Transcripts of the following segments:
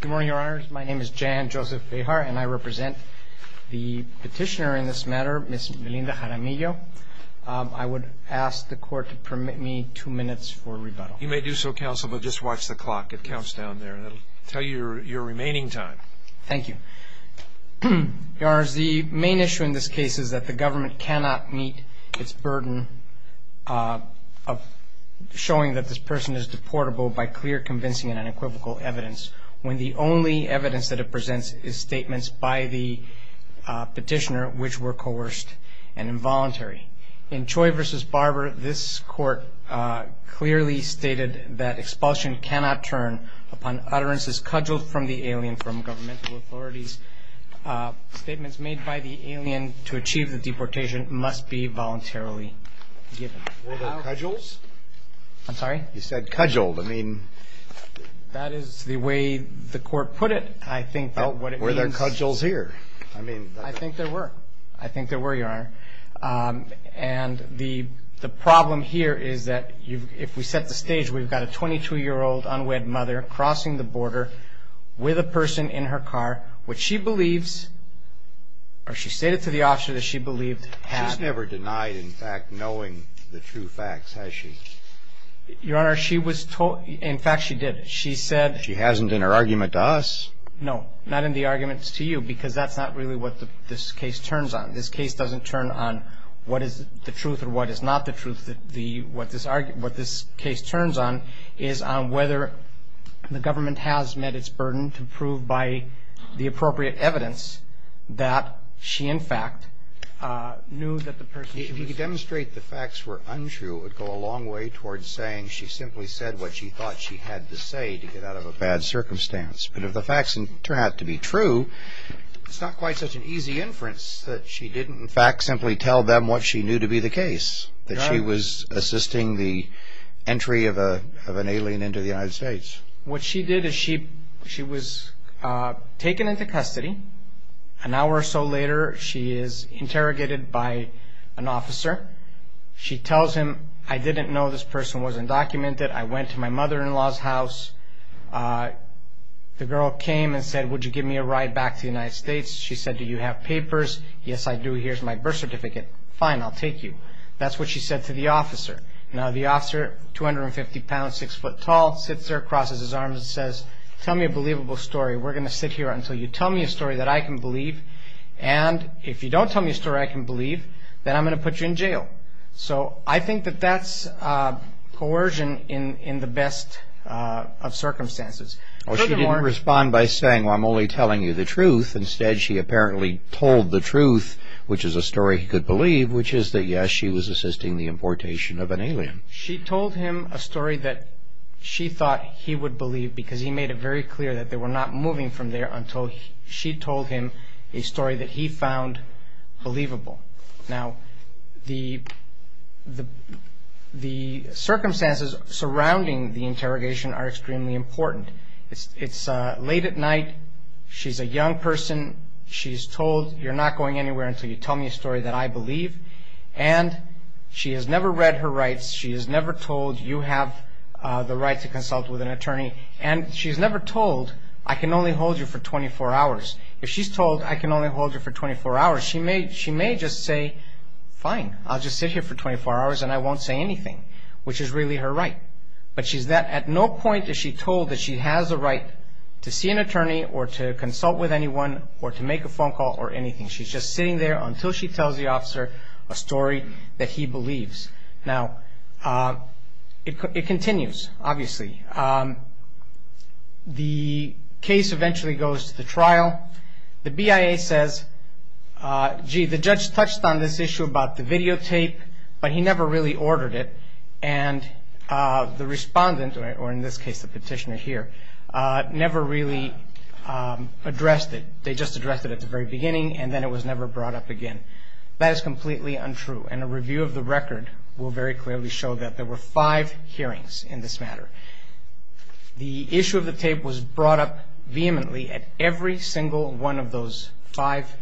Good morning, Your Honors. My name is Jan Joseph Behar, and I represent the petitioner in this matter, Ms. Melinda Jaramillo. I would ask the Court to permit me two minutes for rebuttal. You may do so, Counsel, but just watch the clock. It counts down there, and it will tell you your remaining time. Thank you. Your Honors, the main issue in this case is that the government cannot meet its burden of showing that this person is deportable by clear, convincing, and unequivocal evidence, when the only evidence that it presents is statements by the petitioner which were coerced and involuntary. In Choi v. Barber, this Court clearly stated that expulsion cannot turn upon utterances cudgeled from the alien from governmental authorities. Statements made by the alien to achieve the deportation must be voluntarily given. Were they cudgels? I'm sorry? You said cudgeled. I mean... That is the way the Court put it. I think that what it means... Were there cudgels here? I mean... I think there were. I think there were, Your Honor. And the problem here is that if we set the stage, we've got a 22-year-old unwed mother crossing the border with a person in her car, which she believes, or she stated to the officer that she believed, had... She's never denied, in fact, knowing the true facts, has she? Your Honor, she was told... In fact, she did. She said... She hasn't in her argument to us. No, not in the arguments to you, because that's not really what this case turns on. This case doesn't turn on what is the truth or what is not the truth. What this case turns on is on whether the government has met its burden to prove by the appropriate evidence that she, in fact, knew that the person... If you could demonstrate the facts were untrue, it would go a long way towards saying she simply said what she thought she had to say to get out of a bad circumstance. But if the facts turn out to be true, it's not quite such an easy inference that she didn't, in fact, simply tell them what she knew to be the case, that she was assisting the entry of an alien into the United States. What she did is she was taken into custody. An hour or so later, she is interrogated by an officer. She tells him, I didn't know this person was undocumented. I went to my mother-in-law's house. The girl came and said, would you give me a ride back to the United States? She said, do you have papers? Yes, I do. Here's my birth certificate. That's what she said to the officer. Now, the officer, 250 pounds, six foot tall, sits there, crosses his arms and says, tell me a believable story. We're going to sit here until you tell me a story that I can believe. And if you don't tell me a story I can believe, then I'm going to put you in jail. So I think that that's coercion in the best of circumstances. Furthermore... Well, she didn't respond by saying, well, I'm only telling you the truth. She told him a story that she thought he would believe because he made it very clear that they were not moving from there until she told him a story that he found believable. Now, the circumstances surrounding the interrogation are extremely important. It's late at night. She's a young person. She's told, you're not going anywhere until you tell me a story that I believe. And she has never read her rights. She has never told you have the right to consult with an attorney. And she's never told, I can only hold you for 24 hours. If she's told, I can only hold you for 24 hours, she may just say, fine. I'll just sit here for 24 hours and I won't say anything, which is really her right. But at no point is she told that she has a right to see an attorney or to consult with anyone or to make a phone call or anything. She's just sitting there until she tells the officer a story that he believes. Now, it continues, obviously. The case eventually goes to the trial. The BIA says, gee, the judge touched on this issue about the videotape, but he never really ordered it. And the respondent, or in this case the petitioner here, never really addressed it. They just addressed it at the very beginning and then it was never brought up again. That is completely untrue. And a review of the record will very clearly show that there were five hearings in this matter. The issue of the tape was brought up vehemently at every single one of those five hearings.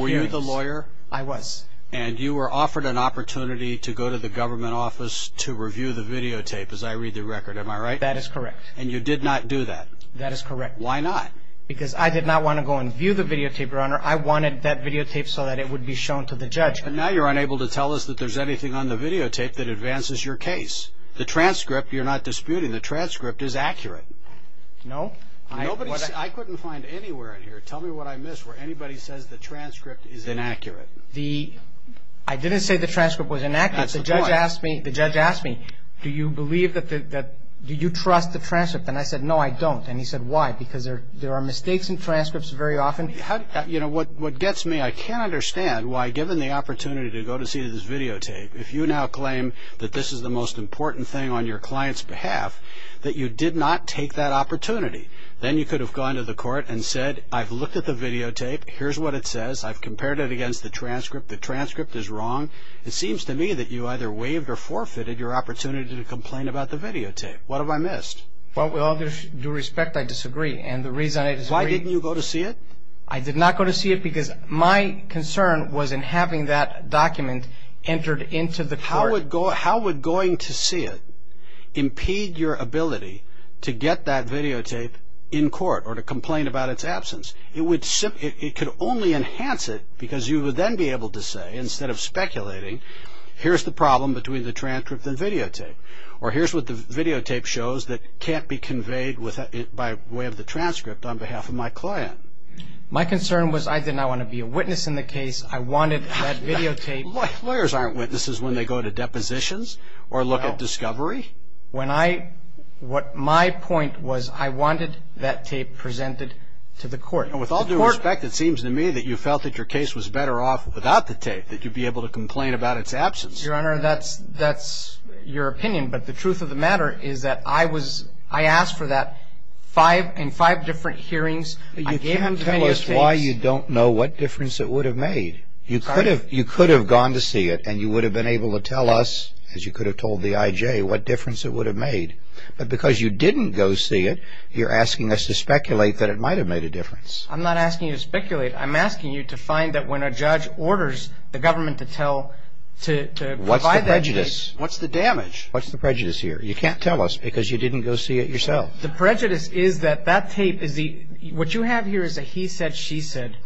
Were you the lawyer? I was. And you were offered an opportunity to go to the government office to review the videotape, as I read the record. Am I right? That is correct. And you did not do that? That is correct. Why not? Because I did not want to go and view the videotape, Your Honor. I wanted that videotape so that it would be shown to the judge. But now you're unable to tell us that there's anything on the videotape that advances your case. The transcript, you're not disputing, the transcript is accurate. No. I couldn't find anywhere in here, tell me what I missed, where anybody says the transcript is inaccurate. I didn't say the transcript was inaccurate. That's the point. The judge asked me, do you believe that, do you trust the transcript? And I said, no, I don't. And he said, why? Because there are mistakes in transcripts very often. You know, what gets me, I can't understand why, given the opportunity to go to see this videotape, if you now claim that this is the most important thing on your client's behalf, that you did not take that opportunity. Then you could have gone to the court and said, I've looked at the videotape, here's what it says, I've compared it against the transcript, the transcript is wrong. It seems to me that you either waived or forfeited your opportunity to complain about the videotape. What have I missed? Well, with all due respect, I disagree. And the reason I disagree. Why didn't you go to see it? I did not go to see it because my concern was in having that document entered into the court. How would going to see it impede your ability to get that videotape in court or to complain about its absence? It could only enhance it because you would then be able to say, instead of speculating, here's the problem between the transcript and videotape. Or here's what the videotape shows that can't be conveyed by way of the transcript on behalf of my client. My concern was I did not want to be a witness in the case. I wanted that videotape. Lawyers aren't witnesses when they go to depositions or look at discovery. My point was I wanted that tape presented to the court. With all due respect, it seems to me that you felt that your case was better off without the tape, that you'd be able to complain about its absence. Your Honor, that's your opinion. But the truth of the matter is that I asked for that in five different hearings. You can't tell us why you don't know what difference it would have made. You could have gone to see it and you would have been able to tell us, as you could have told the IJ, what difference it would have made. But because you didn't go see it, you're asking us to speculate that it might have made a difference. I'm not asking you to speculate. I'm asking you to find that when a judge orders the government to tell, to provide that tape. What's the prejudice? What's the damage? What's the prejudice here? You can't tell us because you didn't go see it yourself. The prejudice is that that tape is the – what you have here is a he said, she said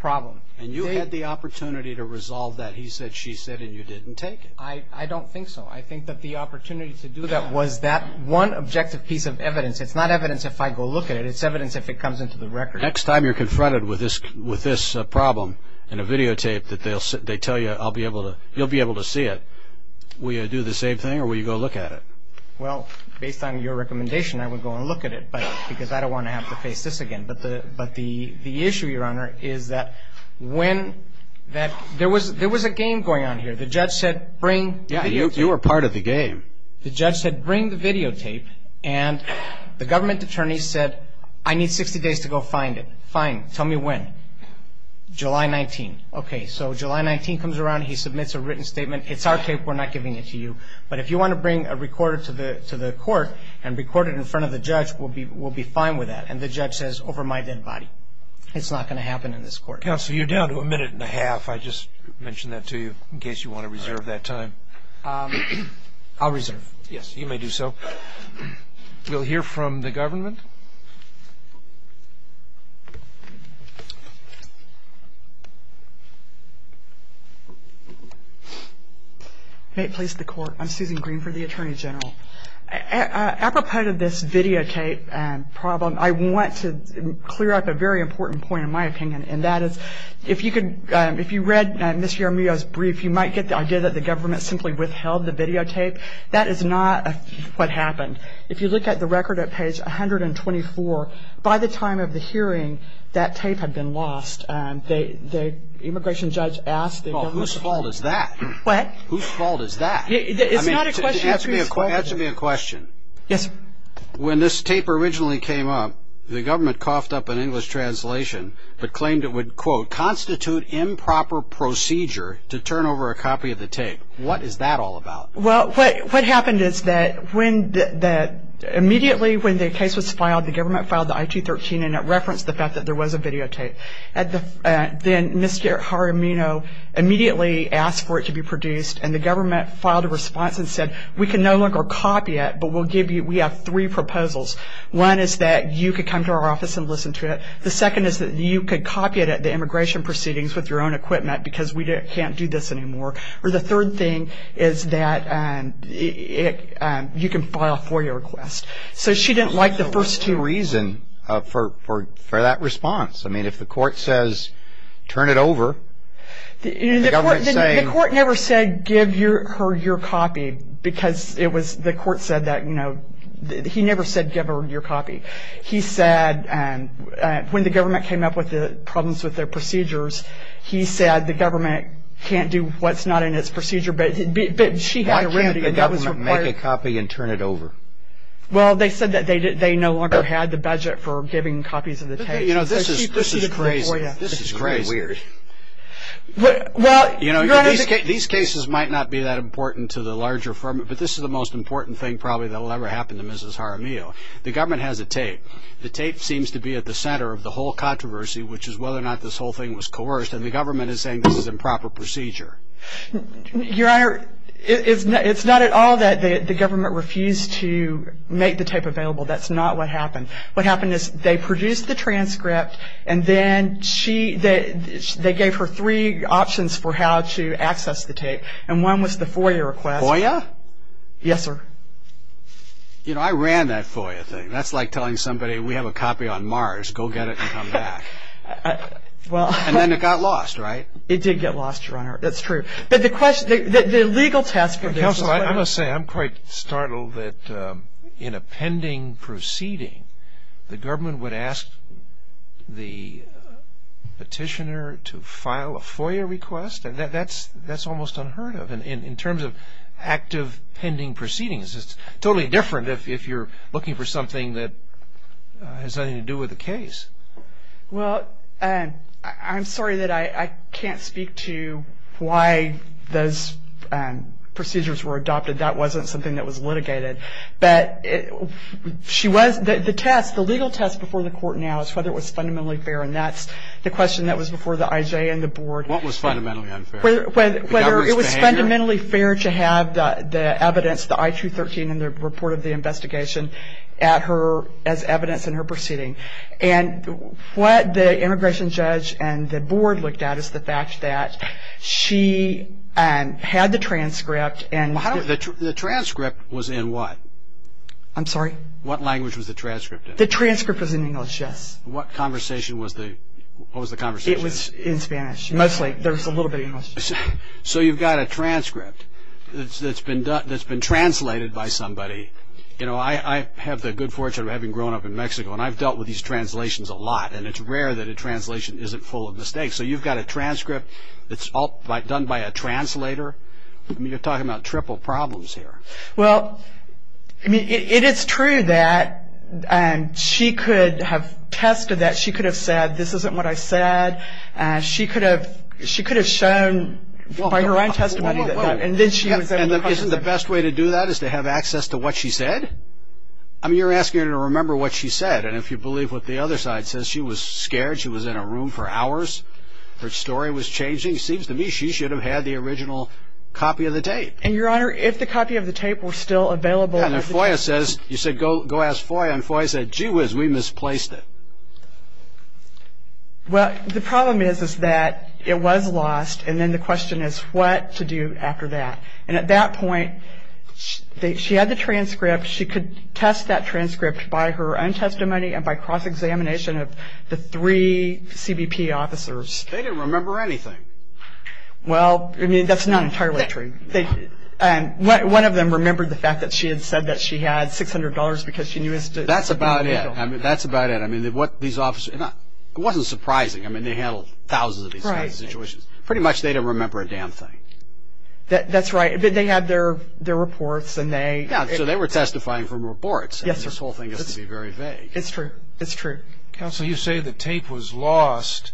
problem. And you had the opportunity to resolve that he said, she said, and you didn't take it. I don't think so. I think that the opportunity to do that was that one objective piece of evidence. It's not evidence if I go look at it. It's evidence if it comes into the record. The next time you're confronted with this problem in a videotape that they tell you I'll be able to – you'll be able to see it, will you do the same thing or will you go look at it? Well, based on your recommendation, I would go and look at it because I don't want to have to face this again. But the issue, Your Honor, is that when – there was a game going on here. The judge said bring – Yeah, you were part of the game. The judge said bring the videotape, and the government attorney said I need 60 days to go find it. Fine. Tell me when. July 19th. Okay. So July 19th comes around. He submits a written statement. It's our tape. We're not giving it to you. But if you want to bring a recorder to the court and record it in front of the judge, we'll be fine with that. And the judge says over my dead body. It's not going to happen in this court. Counsel, you're down to a minute and a half. I just mentioned that to you in case you want to reserve that time. I'll reserve. Yes, you may do so. We'll hear from the government. May it please the Court. I'm Susan Green for the Attorney General. Apropos to this videotape problem, I want to clear up a very important point in my opinion, and that is if you read Ms. Jaramillo's brief, you might get the idea that the government simply withheld the videotape. That is not what happened. If you look at the record at page 124, by the time of the hearing, that tape had been lost. The immigration judge asked the government. Whose fault is that? What? Whose fault is that? It's not a question of whose fault. Answer me a question. Yes, sir. When this tape originally came up, the government coughed up an English translation but claimed it would, quote, constitute improper procedure to turn over a copy of the tape. What is that all about? Well, what happened is that immediately when the case was filed, the government filed the I-213, and it referenced the fact that there was a videotape. Then Ms. Jaramillo immediately asked for it to be produced, and the government filed a response and said, we can no longer copy it, but we have three proposals. One is that you could come to our office and listen to it. The second is that you could copy it at the immigration proceedings with your own equipment because we can't do this anymore. Or the third thing is that you can file a FOIA request. So she didn't like the first two. What's the reason for that response? I mean, if the court says, turn it over, the government is saying... The court said that, you know, he never said give her your copy. He said when the government came up with the problems with their procedures, he said the government can't do what's not in its procedure, but she had a remedy. Why can't the government make a copy and turn it over? Well, they said that they no longer had the budget for giving copies of the tape. You know, this is crazy. This is very weird. You know, these cases might not be that important to the larger firm, but this is the most important thing probably that will ever happen to Mrs. Jaramillo. The government has a tape. The tape seems to be at the center of the whole controversy, which is whether or not this whole thing was coerced, and the government is saying this is improper procedure. Your Honor, it's not at all that the government refused to make the tape available. That's not what happened. What happened is they produced the transcript, and then they gave her three options for how to access the tape, and one was the FOIA request. FOIA? Yes, sir. You know, I ran that FOIA thing. That's like telling somebody we have a copy on Mars. Go get it and come back. And then it got lost, right? It did get lost, Your Honor. That's true. But the legal test for this is clear. Counsel, I must say I'm quite startled that in a pending proceeding, the government would ask the petitioner to file a FOIA request? That's almost unheard of. In terms of active pending proceedings, it's totally different if you're looking for something that has nothing to do with the case. Well, I'm sorry that I can't speak to why those procedures were adopted. That wasn't something that was litigated. But the legal test before the court now is whether it was fundamentally fair, and that's the question that was before the IJ and the board. What was fundamentally unfair? Whether it was fundamentally fair to have the evidence, the I-213 and the report of the investigation as evidence in her proceeding. And what the immigration judge and the board looked at is the fact that she had the transcript. The transcript was in what? I'm sorry? What language was the transcript in? The transcript was in English, yes. What was the conversation? It was in Spanish. Mostly. There was a little bit of English. So you've got a transcript that's been translated by somebody. You know, I have the good fortune of having grown up in Mexico, and I've dealt with these translations a lot. And it's rare that a translation isn't full of mistakes. So you've got a transcript that's done by a translator. I mean, you're talking about triple problems here. Well, I mean, it is true that she could have tested that. She could have said, this isn't what I said. She could have shown by her own testimony. And isn't the best way to do that is to have access to what she said? I mean, you're asking her to remember what she said. And if you believe what the other side says, she was scared. She was in a room for hours. Her story was changing. It seems to me she should have had the original copy of the tape. And, Your Honor, if the copy of the tape were still available. You said go ask FOIA, and FOIA said, gee whiz, we misplaced it. Well, the problem is, is that it was lost. And then the question is what to do after that. And at that point, she had the transcript. She could test that transcript by her own testimony and by cross-examination of the three CBP officers. They didn't remember anything. Well, I mean, that's not entirely true. One of them remembered the fact that she had said that she had $600 because she knew. That's about it. That's about it. I mean, these officers, it wasn't surprising. I mean, they handled thousands of these kinds of situations. Pretty much they don't remember a damn thing. That's right. But they had their reports, and they... Yeah, so they were testifying from reports. Yes, sir. And this whole thing is to be very vague. It's true. It's true. Counsel, you say the tape was lost,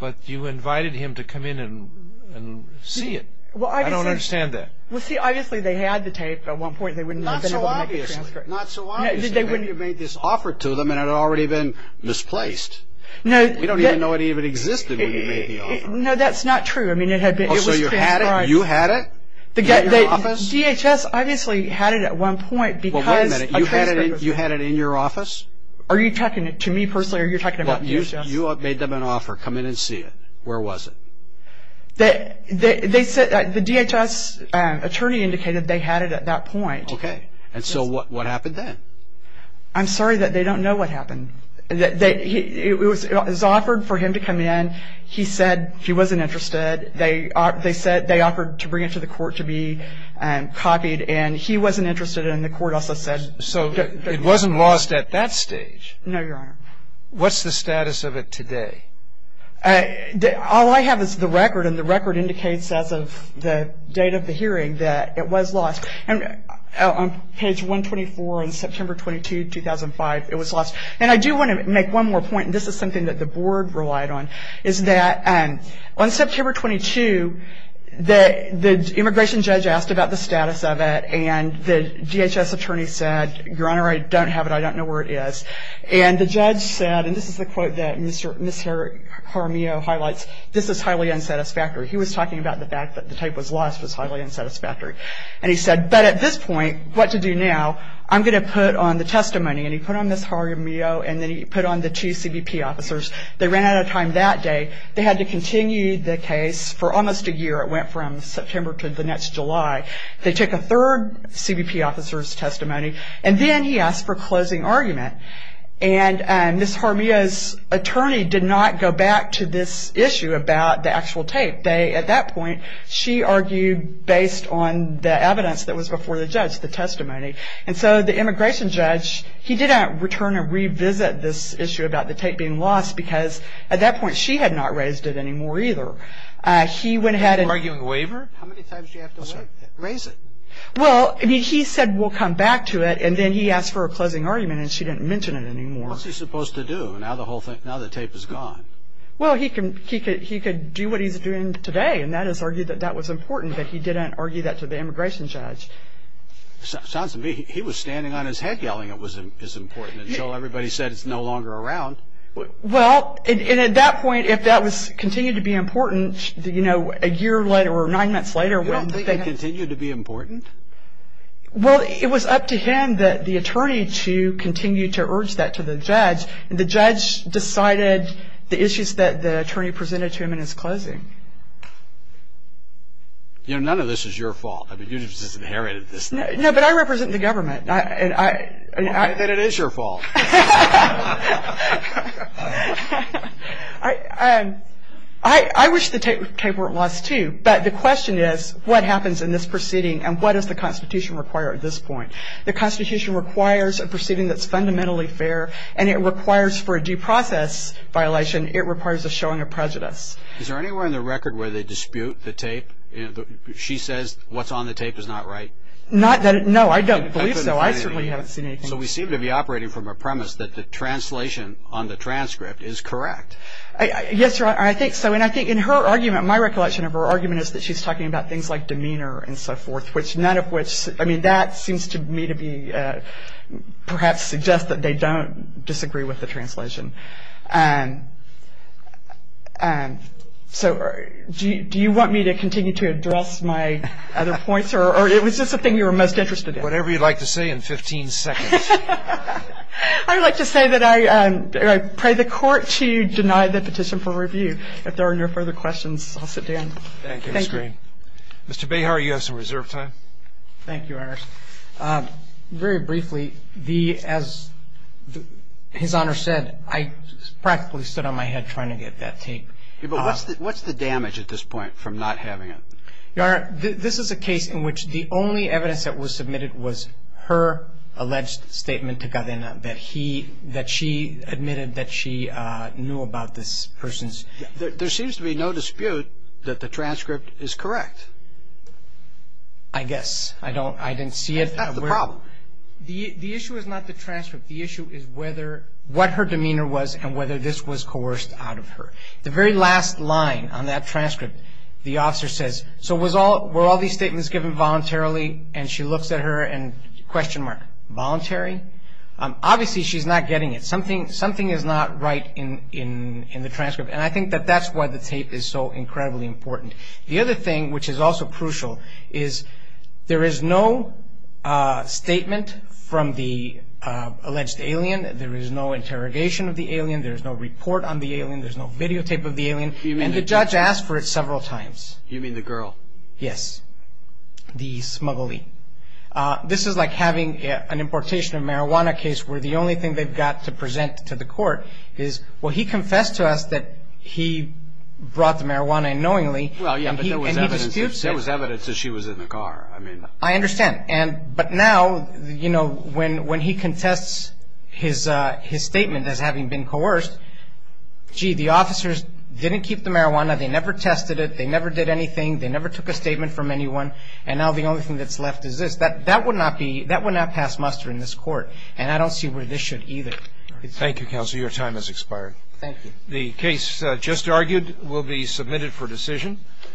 but you invited him to come in and see it. I don't understand that. Well, see, obviously they had the tape at one point. They wouldn't have been able to make the transcript. Not so obviously. Not so obviously. I mean, you made this offer to them, and it had already been misplaced. We don't even know it even existed when you made the offer. No, that's not true. I mean, it was transcribed. Oh, so you had it? You had it? At your office? DHS obviously had it at one point because... Well, wait a minute. You had it in your office? Are you talking to me personally, or are you talking about DHS? You made them an offer, come in and see it. Where was it? The DHS attorney indicated they had it at that point. Okay, and so what happened then? I'm sorry that they don't know what happened. It was offered for him to come in. He said he wasn't interested. They said they offered to bring it to the court to be copied, and he wasn't interested, and the court also said... So it wasn't lost at that stage. No, Your Honor. What's the status of it today? All I have is the record, and the record indicates as of the date of the hearing that it was lost. On page 124 in September 22, 2005, it was lost. And I do want to make one more point, and this is something that the Board relied on, is that on September 22, the immigration judge asked about the status of it, and the DHS attorney said, Your Honor, I don't have it. I don't know where it is. And the judge said, and this is the quote that Ms. Jaramillo highlights, this is highly unsatisfactory. He was talking about the fact that the tape was lost was highly unsatisfactory. And he said, but at this point, what to do now? I'm going to put on the testimony. And he put on Ms. Jaramillo, and then he put on the two CBP officers. They ran out of time that day. They had to continue the case for almost a year. It went from September to the next July. They took a third CBP officer's testimony, and then he asked for a closing argument. And Ms. Jaramillo's attorney did not go back to this issue about the actual tape. At that point, she argued based on the evidence that was before the judge, the testimony. And so the immigration judge, he did not return or revisit this issue about the tape being lost, because at that point she had not raised it anymore either. He went ahead and – You're arguing waiver? How many times do you have to raise it? Well, he said we'll come back to it, and then he asked for a closing argument, and she didn't mention it anymore. What's he supposed to do? Now the tape is gone. Well, he could do what he's doing today, and that is argue that that was important that he didn't argue that to the immigration judge. Sounds to me he was standing on his head yelling it was important, and so everybody said it's no longer around. Well, and at that point, if that continued to be important, you know, a year later or nine months later. You don't think it continued to be important? Well, it was up to him, the attorney, to continue to urge that to the judge. And the judge decided the issues that the attorney presented to him in his closing. You know, none of this is your fault. I mean, you just inherited this. No, but I represent the government. Well, then it is your fault. I wish the tape weren't lost too, but the question is what happens in this proceeding and what does the Constitution require at this point? The Constitution requires a proceeding that's fundamentally fair, and it requires for a due process violation, it requires a showing of prejudice. Is there anywhere in the record where they dispute the tape? She says what's on the tape is not right. No, I don't believe so. I certainly haven't seen anything. So we seem to be operating from a premise that the translation on the transcript is correct. Yes, sir, I think so, and I think in her argument, my recollection of her argument is that she's talking about things like demeanor and so forth, I mean, that seems to me to be perhaps suggest that they don't disagree with the translation. So do you want me to continue to address my other points, or it was just the thing you were most interested in? Whatever you'd like to say in 15 seconds. I would like to say that I pray the court to deny the petition for review. If there are no further questions, I'll sit down. Thank you. Thank you. Mr. Behar, you have some reserve time. Thank you, Your Honor. Very briefly, as His Honor said, I practically stood on my head trying to get that tape. But what's the damage at this point from not having it? Your Honor, this is a case in which the only evidence that was submitted was her alleged statement to Gardena that she admitted that she knew about this person's. There seems to be no dispute that the transcript is correct. I guess. I didn't see it. That's the problem. The issue is not the transcript. The issue is what her demeanor was and whether this was coerced out of her. The very last line on that transcript, the officer says, so were all these statements given voluntarily? And she looks at her and question mark, voluntary? Obviously, she's not getting it. Something is not right in the transcript. And I think that that's why the tape is so incredibly important. The other thing, which is also crucial, is there is no statement from the alleged alien. There is no interrogation of the alien. There is no report on the alien. There is no videotape of the alien. And the judge asked for it several times. You mean the girl? Yes, the smuggler. This is like having an importation of marijuana case where the only thing they've got to present to the court is, well, he confessed to us that he brought the marijuana unknowingly. Well, yeah, but there was evidence that she was in the car. I mean. I understand. But now, you know, when he contests his statement as having been coerced, gee, the officers didn't keep the marijuana. They never tested it. They never did anything. They never took a statement from anyone. And now the only thing that's left is this. That would not pass muster in this court. And I don't see where this should either. Thank you, Counselor. Your time has expired. Thank you. The case just argued will be submitted for decision.